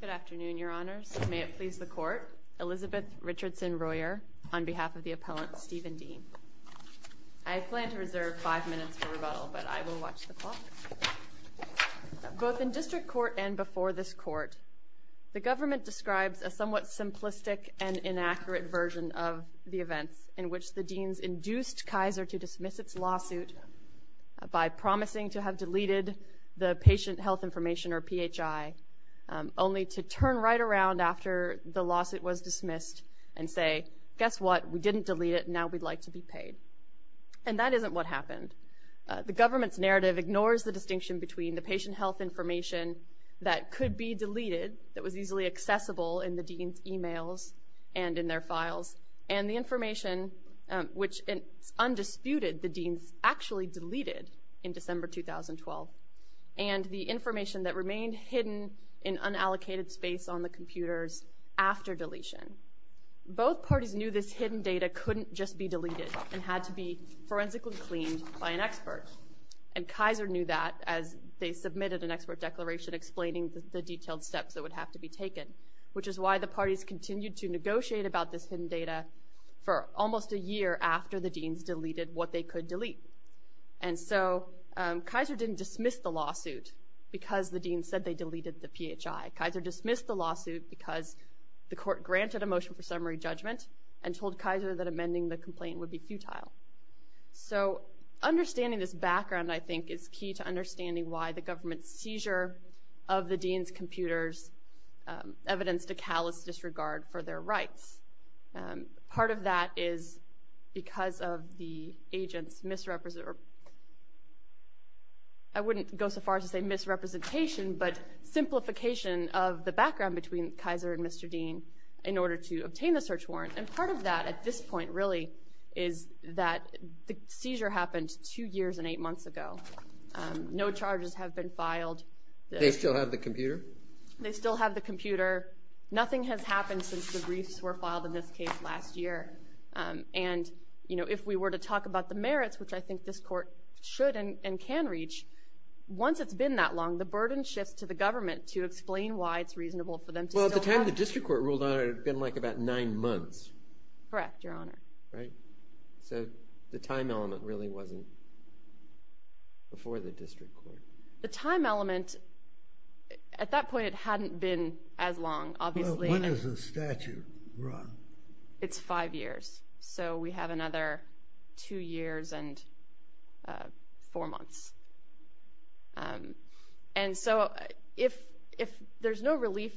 Good afternoon, Your Honors. May it please the Court, Elizabeth Richardson-Royer, on behalf of the appellant Stephen Dean. I plan to reserve five minutes for rebuttal, but I will watch the clock. Both in district court and before this court, the government describes a somewhat simplistic and inaccurate version of the events in which the Deans induced Kaiser to dismiss its lawsuit by promising to have deleted the patient health information, or PHI, only to turn right around after the lawsuit was dismissed and say, guess what, we didn't delete it, now we'd like to be paid. And that isn't what happened. The government's narrative ignores the distinction between the patient health information that could be deleted, that was easily accessible in the Deans' emails and in their files, and the information which, undisputed, the Deans actually deleted in December 2012, and the information that remained hidden in unallocated space on the computers after deletion. Both parties knew this hidden data couldn't just be deleted and had to be forensically cleaned by an expert, and Kaiser knew that as they submitted an expert declaration explaining the detailed steps that would have to be taken, which is why the parties continued to negotiate about this hidden data for almost a year after the Deans deleted what they could delete. And so Kaiser didn't dismiss the lawsuit because the Deans said they deleted the PHI. Kaiser dismissed the lawsuit because the court granted a motion for summary judgment and told Kaiser that amending the complaint would be futile. So understanding this background, I think, is key to understanding why the government's seizure of the Deans' computers evidenced a callous disregard for their rights. Part of that is because of the agent's misrepresentation, or I wouldn't go so far as to say misrepresentation, but simplification of the background between Kaiser and Mr. Dean in order to obtain the search warrant. And part of that at this point really is that the seizure happened two years and eight months ago. No charges have been filed. They still have the computer? They still have the computer. Nothing has happened since the briefs were filed in this case last year. And if we were to talk about the merits, which I think this court should and can reach, once it's been that long, the burden shifts to the government to explain why it's reasonable for them to still have it. By the time the district court ruled on it, it had been like about nine months. Correct, Your Honor. Right. So the time element really wasn't before the district court. The time element, at that point it hadn't been as long, obviously. When does the statute run? It's five years. So we have another two years and four months. And so if there's no relief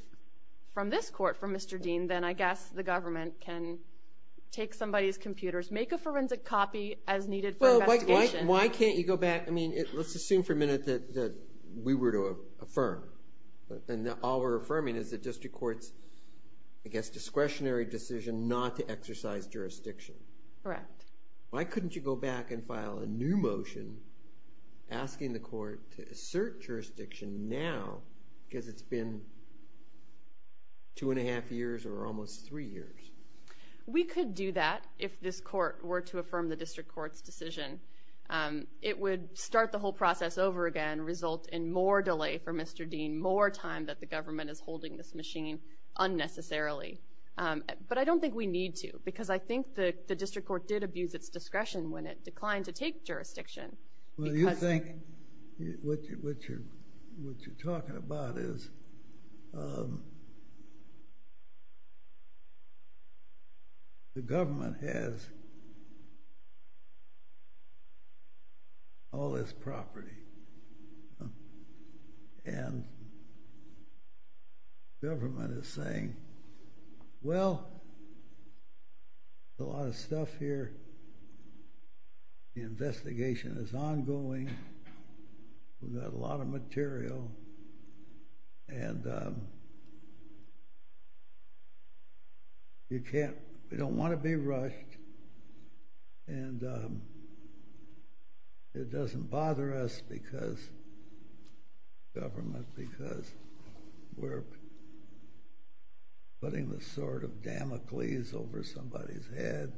from this court from Mr. Dean, then I guess the government can take somebody's computers, make a forensic copy as needed for investigation. Well, why can't you go back? I mean, let's assume for a minute that we were to affirm, and all we're affirming is the district court's, I guess, discretionary decision not to exercise jurisdiction. Correct. Why couldn't you go back and file a new motion asking the court to assert jurisdiction now because it's been two and a half years or almost three years? We could do that if this court were to affirm the district court's decision. It would start the whole process over again, result in more delay for Mr. Dean, more time that the government is holding this machine unnecessarily. But I don't think we need to because I think the district court did abuse its discretion when it declined to take jurisdiction. Well, you think what you're talking about is the government has all this property, and government is saying, well, there's a lot of stuff here. The investigation is ongoing. We've got a lot of material, and you don't want to be rushed, and it doesn't bother us, government, because we're putting the sword of Damocles over somebody's head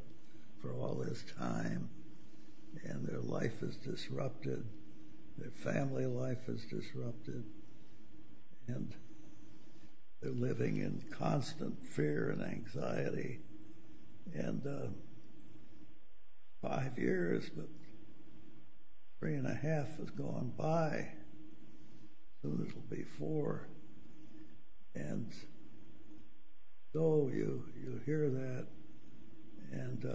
for all this time, and their life is disrupted. Their family life is disrupted, and they're living in constant fear and anxiety, and five years, but three and a half has gone by. Soon there will be four, and so you hear that, and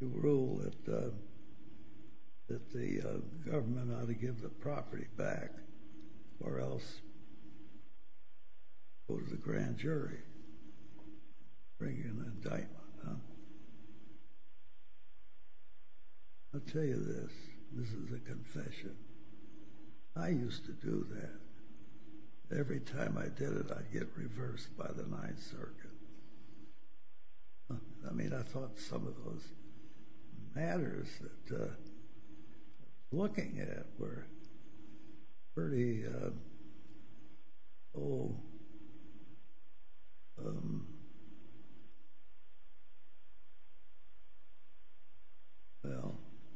you rule that the government ought to give the property back or else go to the grand jury, bring in an indictment. I'll tell you this. This is a confession. I used to do that. Every time I did it, I'd get reversed by the Ninth Circuit. I mean, I thought some of those matters that I was looking at were pretty, well,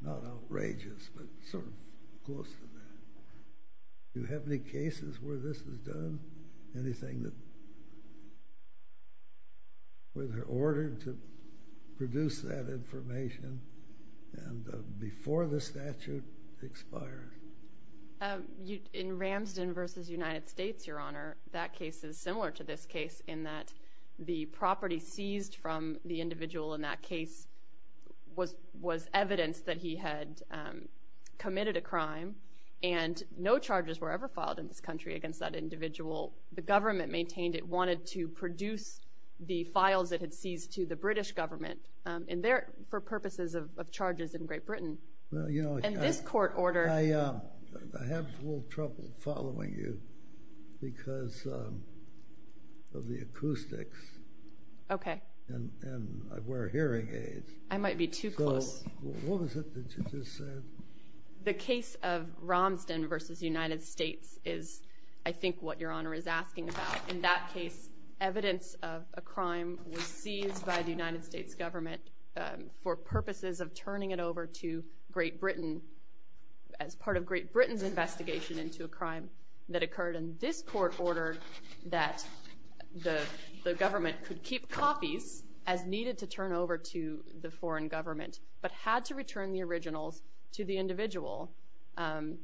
not outrageous but sort of close to that. Do you have any cases where this was done? Anything that was ordered to produce that information before the statute expired? In Ramsden v. United States, Your Honor, that case is similar to this case in that the property seized from the individual in that case was evidence that he had committed a crime, and no charges were ever filed in this country against that individual. The government maintained it wanted to produce the files it had seized to the British government for purposes of charges in Great Britain. In this court order— I have a little trouble following you because of the acoustics, and I wear hearing aids. I might be too close. What was it that you just said? The case of Ramsden v. United States is, I think, what Your Honor is asking about. In that case, evidence of a crime was seized by the United States government for purposes of turning it over to Great Britain as part of Great Britain's investigation into a crime that occurred in this court order that the government could keep copies as needed to turn over to the foreign government but had to return the originals to the individual, and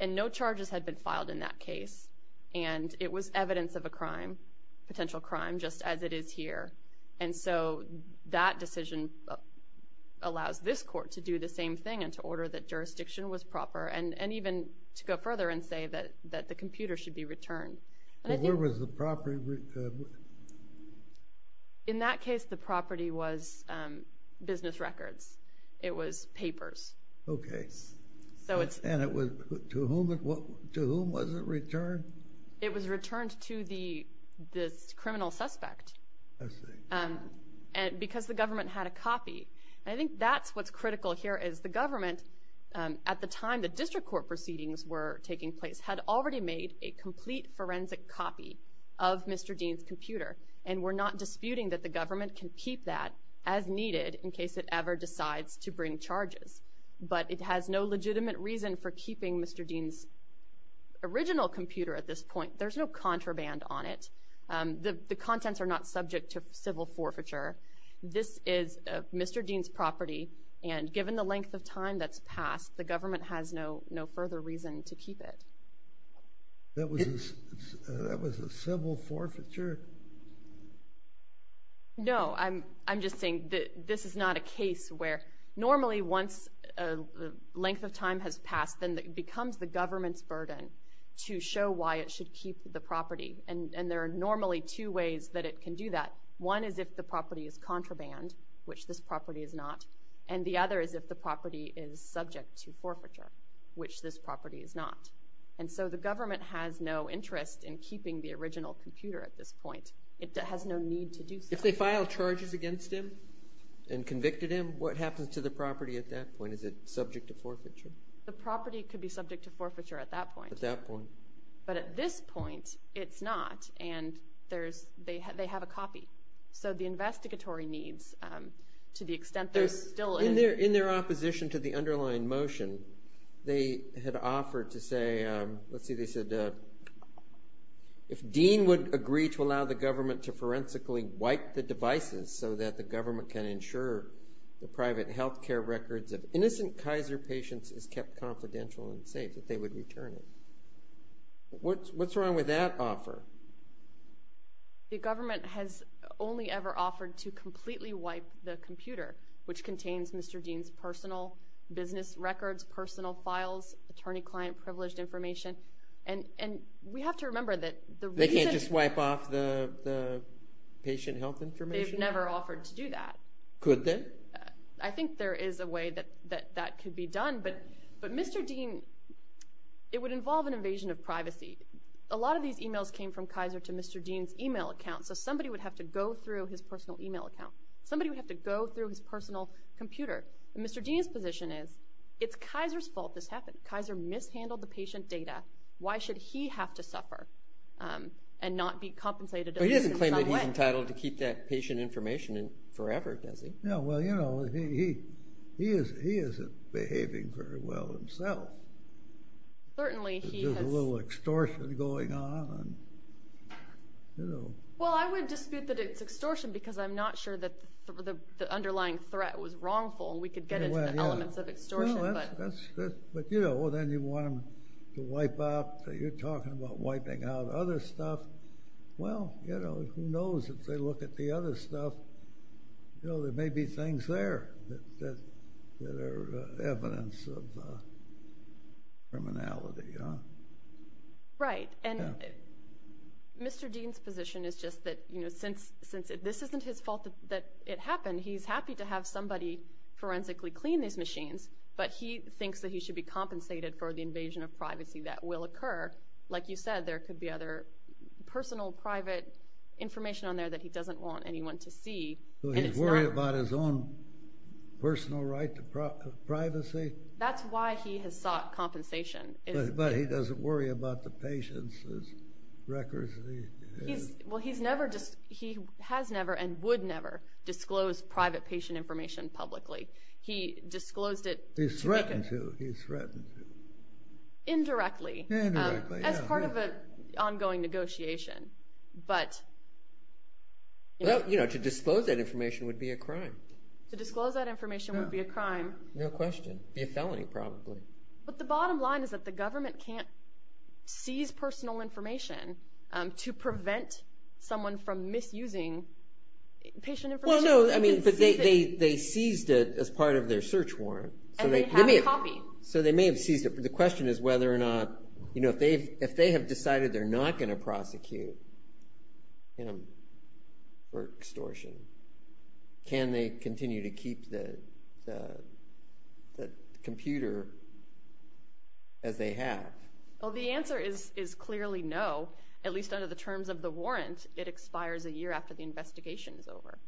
no charges had been filed in that case. It was evidence of a crime, potential crime, just as it is here. That decision allows this court to do the same thing and to order that jurisdiction was proper and even to go further and say that the computer should be returned. Where was the property? In that case, the property was business records. It was papers. Okay, and to whom was it returned? It was returned to this criminal suspect because the government had a copy. I think that's what's critical here is the government, at the time the district court proceedings were taking place, had already made a complete forensic copy of Mr. Dean's computer, and we're not disputing that the government can keep that as needed in case it ever decides to bring charges, but it has no legitimate reason for keeping Mr. Dean's original computer at this point. There's no contraband on it. The contents are not subject to civil forfeiture. This is Mr. Dean's property, and given the length of time that's passed, the government has no further reason to keep it. That was a civil forfeiture? No, I'm just saying that this is not a case where normally once the length of time has passed, then it becomes the government's burden to show why it should keep the property, and there are normally two ways that it can do that. One is if the property is contraband, which this property is not, and the other is if the property is subject to forfeiture, which this property is not, and so the government has no interest in keeping the original computer at this point. It has no need to do so. If they file charges against him and convicted him, what happens to the property at that point? Is it subject to forfeiture? The property could be subject to forfeiture at that point, but at this point it's not, and they have a copy, so the investigatory needs, to the extent they're still in... In their opposition to the underlying motion, they had offered to say, let's see, they said, if Dean would agree to allow the government to forensically wipe the devices so that the government can ensure the private health care records of innocent Kaiser patients is kept confidential and safe, that they would return it. What's wrong with that offer? The government has only ever offered to completely wipe the computer, which contains Mr. Dean's personal business records, personal files, attorney-client privileged information, and we have to remember that the reason... They can't just wipe off the patient health information? They've never offered to do that. Could they? I think there is a way that that could be done, but Mr. Dean, it would involve an invasion of privacy. A lot of these e-mails came from Kaiser to Mr. Dean's e-mail account, so somebody would have to go through his personal e-mail account. Somebody would have to go through his personal computer. Mr. Dean's position is, it's Kaiser's fault this happened. Kaiser mishandled the patient data. Why should he have to suffer and not be compensated? But he doesn't claim that he's entitled to keep that patient information forever, does he? No, well, you know, he isn't behaving very well himself. There's a little extortion going on. Well, I would dispute that it's extortion because I'm not sure that the underlying threat was wrongful. We could get into the elements of extortion. But, you know, then you want them to wipe out. You're talking about wiping out other stuff. Well, you know, who knows? If they look at the other stuff, there may be things there that are evidence of criminality. Right, and Mr. Dean's position is just that since this isn't his fault that it happened, he's happy to have somebody forensically clean these machines, but he thinks that he should be compensated for the invasion of privacy that will occur. Like you said, there could be other personal, private information on there that he doesn't want anyone to see. So he's worried about his own personal right to privacy? That's why he has sought compensation. But he doesn't worry about the patient's records? Well, he has never and would never disclose private patient information publicly. He disclosed it to make a... He's threatened to. He's threatened to. Indirectly. Indirectly, yeah. As part of an ongoing negotiation. Well, to disclose that information would be a crime. To disclose that information would be a crime. No question. It would be a felony, probably. But the bottom line is that the government can't seize personal information to prevent someone from misusing patient information. Well, no, but they seized it as part of their search warrant. And they have a copy. So they may have seized it. The question is whether or not, you know, if they have decided they're not going to prosecute him for extortion, can they continue to keep the computer as they have? Well, the answer is clearly no, at least under the terms of the warrant. It expires a year after the investigation is over.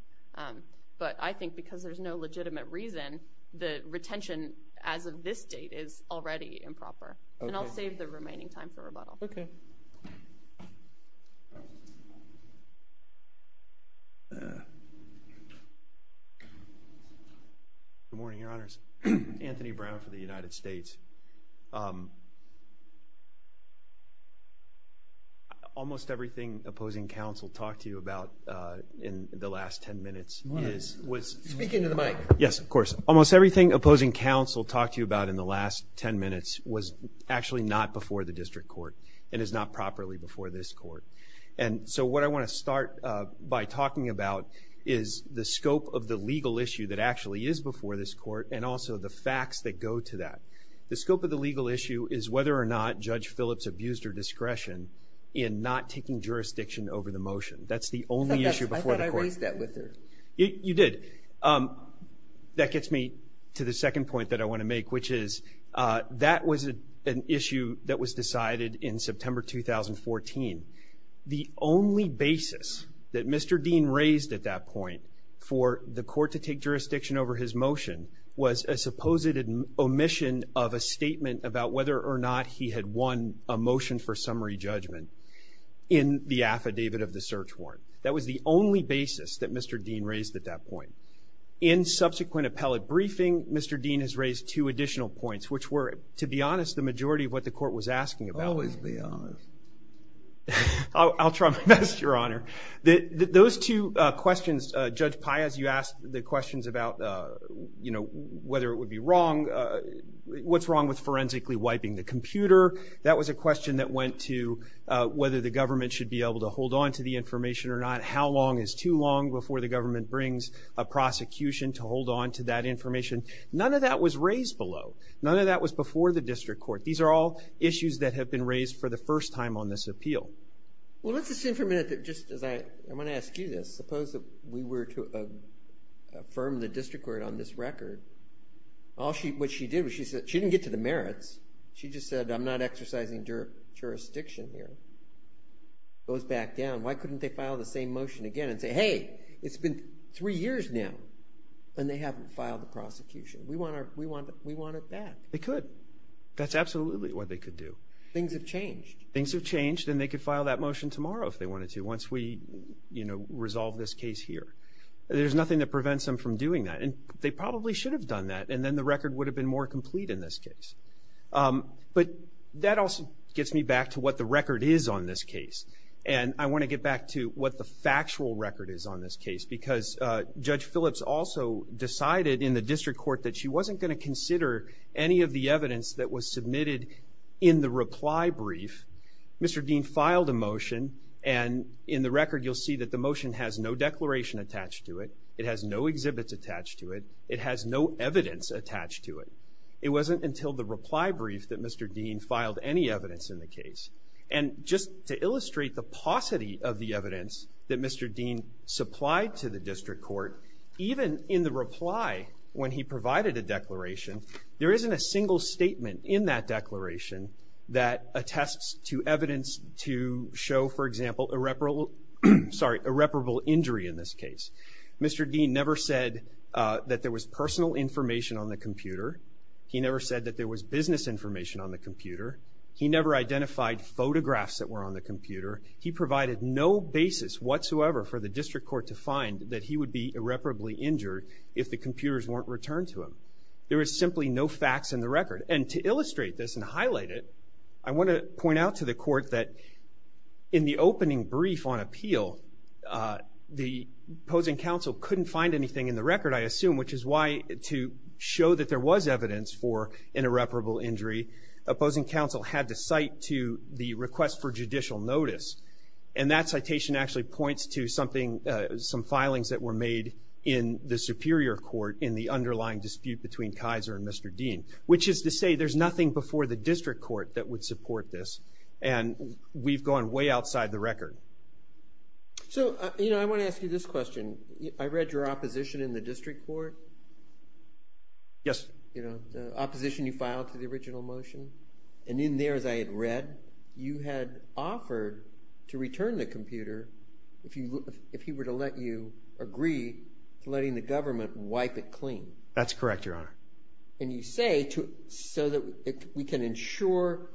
But I think because there's no legitimate reason, the retention as of this date is already improper. And I'll save the remaining time for rebuttal. Okay. Good morning, Your Honors. Anthony Brown for the United States. Almost everything opposing counsel talked to you about in the last 10 minutes is, was... Speak into the mic. Yes, of course. Almost everything opposing counsel talked to you about in the last 10 minutes was actually not before the district court and is not properly before this court. And so what I want to start by talking about is the scope of the legal issue that actually is before this court and also the facts that go to that. The scope of the legal issue is whether or not Judge Phillips abused her discretion in not taking jurisdiction over the motion. That's the only issue before the court. I thought I raised that with her. You did. That gets me to the second point that I want to make, which is that was an issue that was decided in September 2014. The only basis that Mr. Dean raised at that point for the court to take jurisdiction over his motion was a supposed omission of a statement about whether or not he had won a motion for summary judgment in the affidavit of the search warrant. That was the only basis that Mr. Dean raised at that point. In subsequent appellate briefing, Mr. Dean has raised two additional points, which were, to be honest, the majority of what the court was asking about. Always be honest. I'll try my best, Your Honor. Those two questions, Judge Paias, you asked the questions about whether it would be wrong, what's wrong with forensically wiping the computer. That was a question that went to whether the government should be able to hold on to the information or not, how long is too long before the government brings a prosecution to hold on to that information. None of that was raised below. None of that was before the district court. These are all issues that have been raised for the first time on this appeal. Let's assume for a minute that just as I'm going to ask you this, suppose that we were to affirm the district court on this record. What she did was she didn't get to the merits. She just said, I'm not exercising jurisdiction here. It goes back down. Why couldn't they file the same motion again and say, hey, it's been three years now, and they haven't filed the prosecution. We want it back. They could. That's absolutely what they could do. Things have changed. Things have changed, and they could file that motion tomorrow if they wanted to, once we resolve this case here. There's nothing that prevents them from doing that, and they probably should have done that, and then the record would have been more complete in this case. But that also gets me back to what the record is on this case, and I want to get back to what the factual record is on this case, because Judge Phillips also decided in the district court that she wasn't going to consider any of the evidence that was submitted in the reply brief. Mr. Dean filed a motion, and in the record, you'll see that the motion has no declaration attached to it. It has no exhibits attached to it. It has no evidence attached to it. It wasn't until the reply brief that Mr. Dean filed any evidence in the case. And just to illustrate the paucity of the evidence that Mr. Dean supplied to the district court, even in the reply when he provided a declaration, there isn't a single statement in that declaration that attests to evidence to show, for example, irreparable injury in this case. Mr. Dean never said that there was personal information on the computer. He never said that there was business information on the computer. He never identified photographs that were on the computer. He provided no basis whatsoever for the district court to find that he would be irreparably injured if the computers weren't returned to him. There is simply no facts in the record. And to illustrate this and highlight it, I want to point out to the court that in the opening brief on appeal, the opposing counsel couldn't find anything in the record, I assume, which is why to show that there was evidence for an irreparable injury, opposing counsel had to cite to the request for judicial notice. And that citation actually points to some filings that were made in the superior court in the underlying dispute between Kaiser and Mr. Dean, which is to say there's nothing before the district court that would support this. And we've gone way outside the record. So, you know, I want to ask you this question. I read your opposition in the district court. Yes. You know, the opposition you filed to the original motion. And in there, as I had read, you had offered to return the computer if he were to let you agree to letting the government wipe it clean. That's correct, Your Honor. And you say so that we can ensure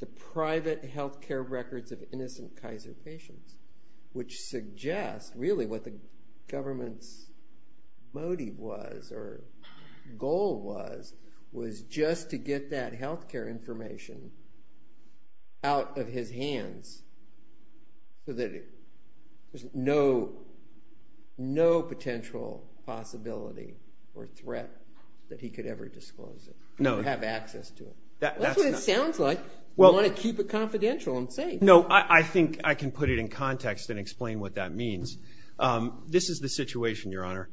the private health care records of innocent Kaiser patients, which suggests really what the government's motive was or goal was, was just to get that health care information out of his hands so that there's no potential possibility or threat that he could ever disclose it or have access to it. That's what it sounds like. You want to keep it confidential, I'm saying. No, I think I can put it in context and explain what that means. This is the situation, Your Honor.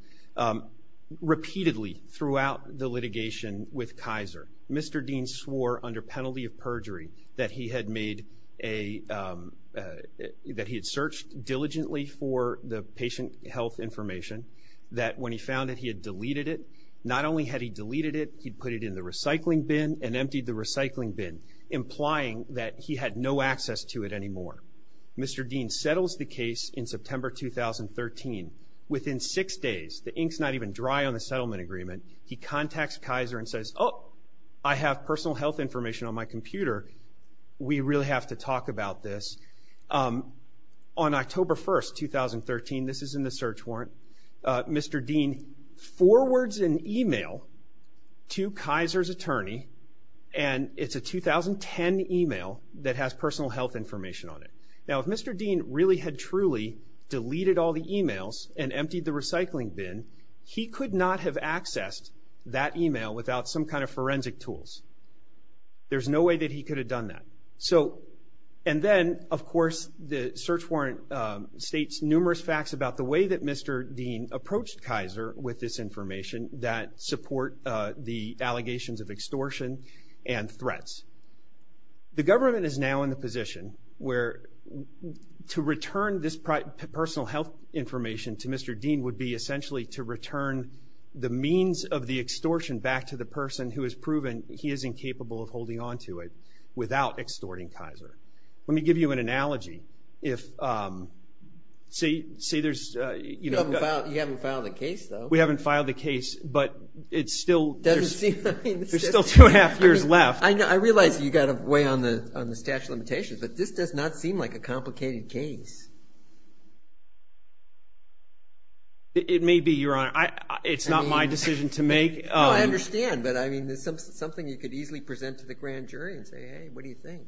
Repeatedly throughout the litigation with Kaiser, Mr. Dean swore under penalty of perjury that he had made a – that he had searched diligently for the patient health information, that when he found it he had deleted it. Not only had he deleted it, he'd put it in the recycling bin and emptied the recycling bin, implying that he had no access to it anymore. Mr. Dean settles the case in September 2013. Within six days, the ink's not even dry on the settlement agreement, he contacts Kaiser and says, Oh, I have personal health information on my computer. We really have to talk about this. On October 1, 2013, this is in the search warrant, Mr. Dean forwards an email to Kaiser's attorney, and it's a 2010 email that has personal health information on it. Now, if Mr. Dean really had truly deleted all the emails and emptied the recycling bin, he could not have accessed that email without some kind of forensic tools. There's no way that he could have done that. So – and then, of course, the search warrant states numerous facts about the way that Mr. Dean approached Kaiser with this information that support the allegations of extortion and threats. The government is now in the position where to return this personal health information to Mr. Dean would be essentially to return the means of the extortion back to the person who has proven he is incapable of holding onto it without extorting Kaiser. Let me give you an analogy. See, there's – You haven't filed a case, though. We haven't filed a case, but it's still – It doesn't seem – There's still two and a half years left. I realize you've got to weigh on the statute of limitations, but this does not seem like a complicated case. It may be, Your Honor. It's not my decision to make. No, I understand, but, I mean, it's something you could easily present to the grand jury and say, hey, what do you think?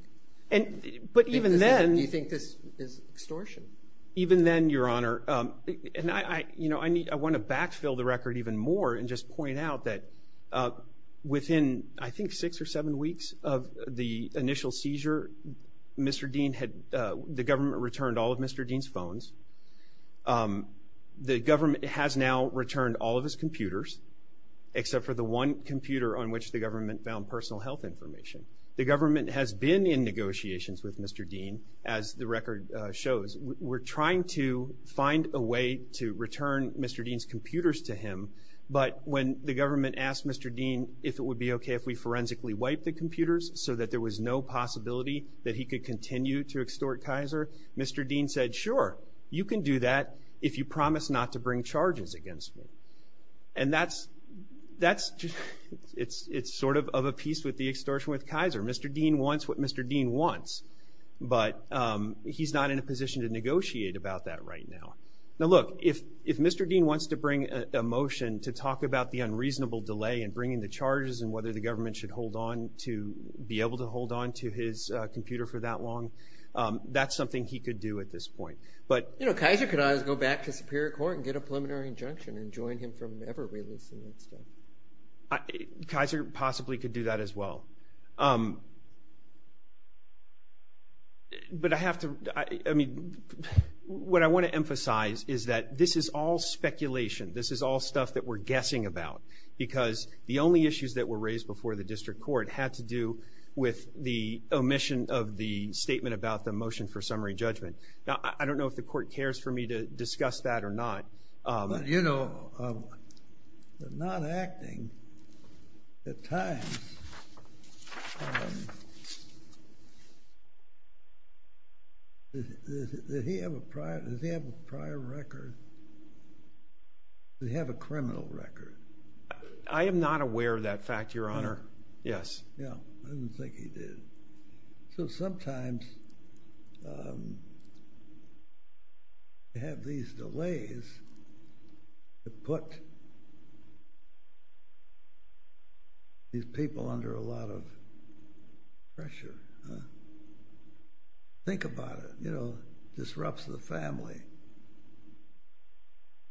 But even then – Do you think this is extortion? Even then, Your Honor – and I want to backfill the record even more and just point out that within, I think, six or seven weeks of the initial seizure, Mr. Dean had – the government returned all of Mr. Dean's phones. The government has now returned all of his computers, except for the one computer on which the government found personal health information. The government has been in negotiations with Mr. Dean, as the record shows. We're trying to find a way to return Mr. Dean's computers to him, but when the government asked Mr. Dean if it would be okay if we forensically wiped the computers so that there was no possibility that he could continue to extort Kaiser, Mr. Dean said, sure, you can do that if you promise not to bring charges against me. And that's – it's sort of a piece with the extortion with Kaiser. Mr. Dean wants what Mr. Dean wants, but he's not in a position to negotiate about that right now. Now, look, if Mr. Dean wants to bring a motion to talk about the unreasonable delay in bringing the charges and whether the government should hold on to – be able to hold on to his computer for that long, that's something he could do at this point. But – You know, Kaiser could always go back to Superior Court and get a preliminary injunction and join him from never releasing that stuff. Kaiser possibly could do that as well. But I have to – I mean, what I want to emphasize is that this is all speculation. This is all stuff that we're guessing about, because the only issues that were raised before the district court had to do with the omission of the statement about the motion for summary judgment. Now, I don't know if the court cares for me to discuss that or not. But, you know, they're not acting at times. Does he have a prior record? Does he have a criminal record? I am not aware of that fact, Your Honor. Yes. Yeah, I didn't think he did. So sometimes you have these delays that put these people under a lot of pressure. Think about it. You know, disrupts the family,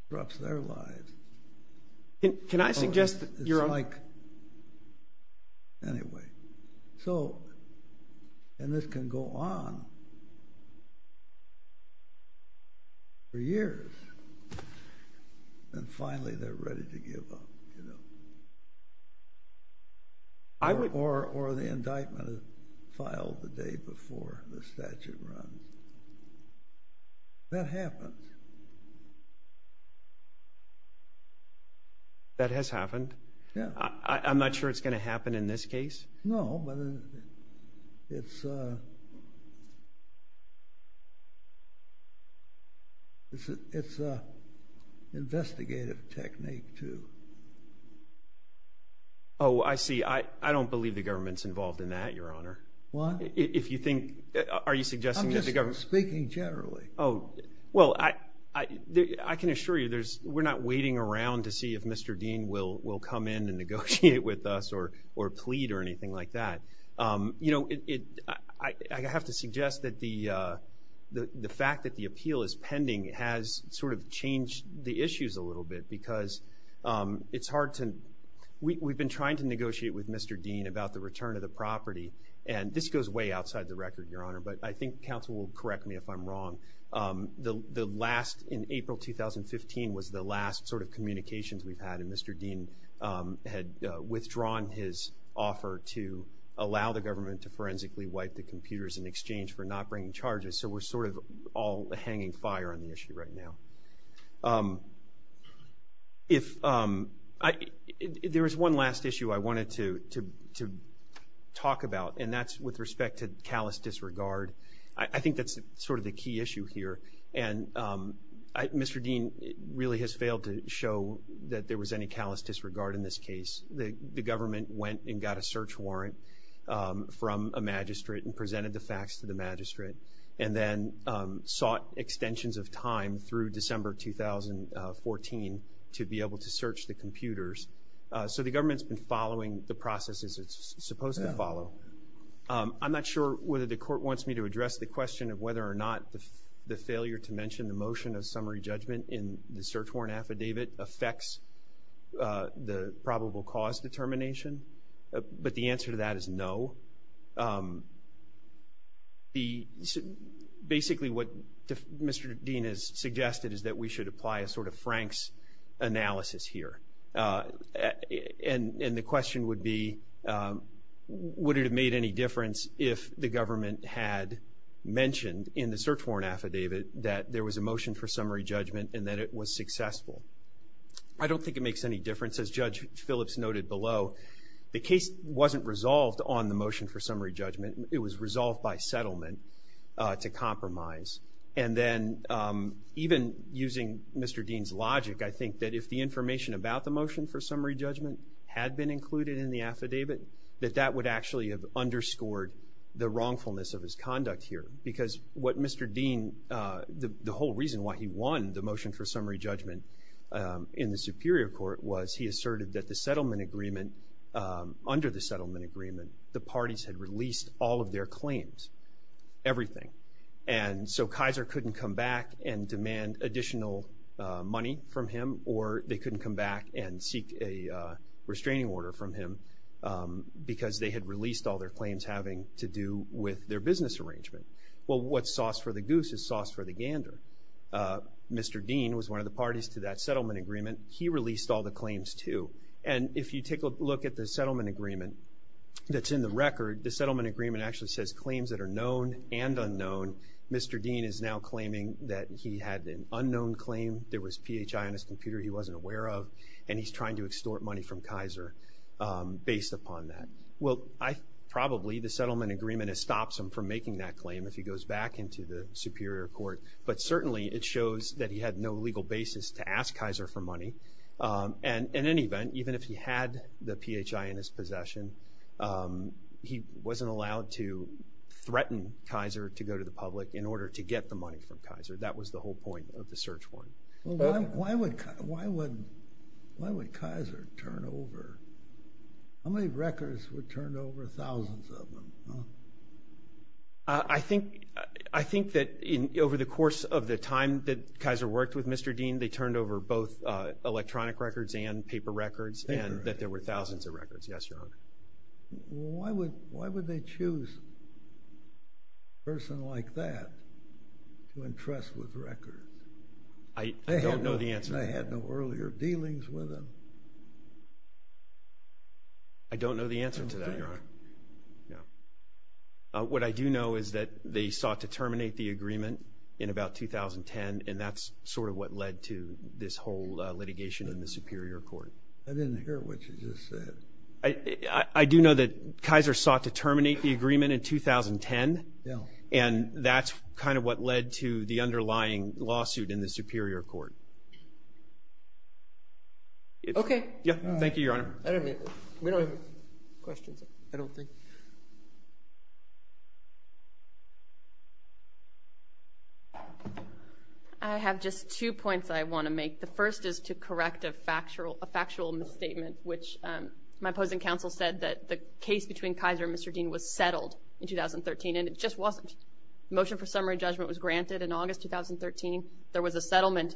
disrupts their lives. Can I suggest, Your Honor? It's like – anyway, so – and this can go on for years, and finally they're ready to give up, you know. Or the indictment is filed the day before the statute runs. That happens. That has happened. I'm not sure it's going to happen in this case. No, but it's an investigative technique, too. Oh, I see. I don't believe the government's involved in that, Your Honor. Why? If you think – are you suggesting that the government – I'm just speaking generally. Oh, well, I can assure you we're not waiting around to see if Mr. Dean will come in and negotiate with us or plead or anything like that. You know, I have to suggest that the fact that the appeal is pending has sort of changed the issues a little bit because it's hard to – we've been trying to negotiate with Mr. Dean about the return of the property, and this goes way outside the record, Your Honor, but I think counsel will correct me if I'm wrong. The last – in April 2015 was the last sort of communications we've had, and Mr. Dean had withdrawn his offer to allow the government to forensically wipe the computers in exchange for not bringing charges. So we're sort of all hanging fire on the issue right now. If – there was one last issue I wanted to talk about, and that's with respect to callous disregard. I think that's sort of the key issue here, and Mr. Dean really has failed to show that there was any callous disregard in this case. The government went and got a search warrant from a magistrate and presented the facts to the magistrate and then sought extensions of time through December 2014 to be able to search the computers. So the government's been following the processes it's supposed to follow. I'm not sure whether the court wants me to address the question of whether or not the failure to mention the motion of summary judgment in the search warrant affidavit affects the probable cause determination, but the answer to that is no. The – basically what Mr. Dean has suggested is that we should apply a sort of Frank's analysis here, and the question would be would it have made any difference if the government had mentioned in the search warrant affidavit that there was a motion for summary judgment and that it was successful. I don't think it makes any difference. As Judge Phillips noted below, the case wasn't resolved on the motion for summary judgment. It was resolved by settlement to compromise. And then even using Mr. Dean's logic, I think that if the information about the motion for summary judgment had been included in the affidavit, that that would actually have underscored the wrongfulness of his conduct here because what Mr. Dean – the whole reason why he won the motion for summary judgment in the Superior Court was he asserted that the settlement agreement – under the settlement agreement, the parties had released all of their claims, everything, and so Kaiser couldn't come back and demand additional money from him or they couldn't come back and seek a restraining order from him because they had released all their claims having to do with their business arrangement. Well, what's sauce for the goose is sauce for the gander. Mr. Dean was one of the parties to that settlement agreement. He released all the claims too. And if you take a look at the settlement agreement that's in the record, the settlement agreement actually says claims that are known and unknown. Mr. Dean is now claiming that he had an unknown claim. There was PHI on his computer he wasn't aware of, and he's trying to extort money from Kaiser based upon that. Well, probably the settlement agreement has stopped him from making that claim if he goes back into the Superior Court, but certainly it shows that he had no legal basis to ask Kaiser for money. And in any event, even if he had the PHI in his possession, he wasn't allowed to threaten Kaiser to go to the public in order to get the money from Kaiser. That was the whole point of the search warrant. Why would Kaiser turn over? How many records were turned over, thousands of them? I think that over the course of the time that Kaiser worked with Mr. Dean, they turned over both electronic records and paper records, and that there were thousands of records. Yes, Your Honor. Why would they choose a person like that to entrust with records? I don't know the answer to that. They had no earlier dealings with him. I don't know the answer to that, Your Honor. What I do know is that they sought to terminate the agreement in about 2010, and that's sort of what led to this whole litigation in the Superior Court. I didn't hear what you just said. I do know that Kaiser sought to terminate the agreement in 2010, and that's kind of what led to the underlying lawsuit in the Superior Court. Okay. Thank you, Your Honor. We don't have questions, I don't think. I have just two points I want to make. The first is to correct a factual misstatement, which my opposing counsel said that the case between Kaiser and Mr. Dean was settled in 2013, and it just wasn't. The motion for summary judgment was granted in August 2013. There was a settlement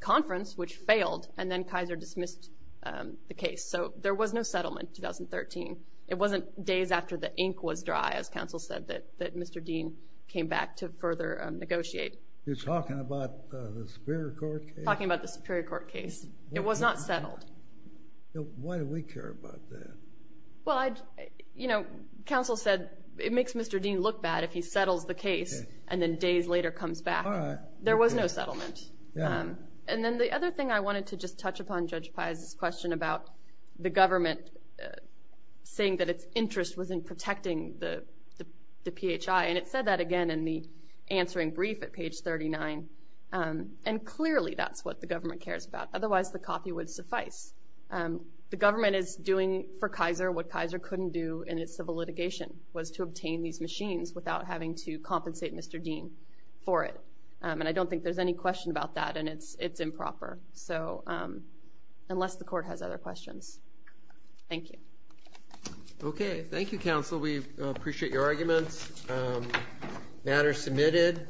conference, which failed, and then Kaiser dismissed the case. So there was no settlement in 2013. It wasn't days after the ink was dry, as counsel said, that Mr. Dean came back to further negotiate. You're talking about the Superior Court case? I'm talking about the Superior Court case. It was not settled. Why do we care about that? Well, counsel said it makes Mr. Dean look bad if he settles the case and then days later comes back. All right. There was no settlement. Yeah. And then the other thing I wanted to just touch upon Judge Pai's question about the government saying that its interest was in protecting the PHI, and it said that again in the answering brief at page 39, and clearly that's what the government cares about. Otherwise the coffee would suffice. The government is doing for Kaiser what Kaiser couldn't do in its civil litigation, was to obtain these machines without having to compensate Mr. Dean for it. And I don't think there's any question about that, and it's improper, unless the court has other questions. Thank you. Okay. Thank you, counsel. We appreciate your arguments. Matter submitted.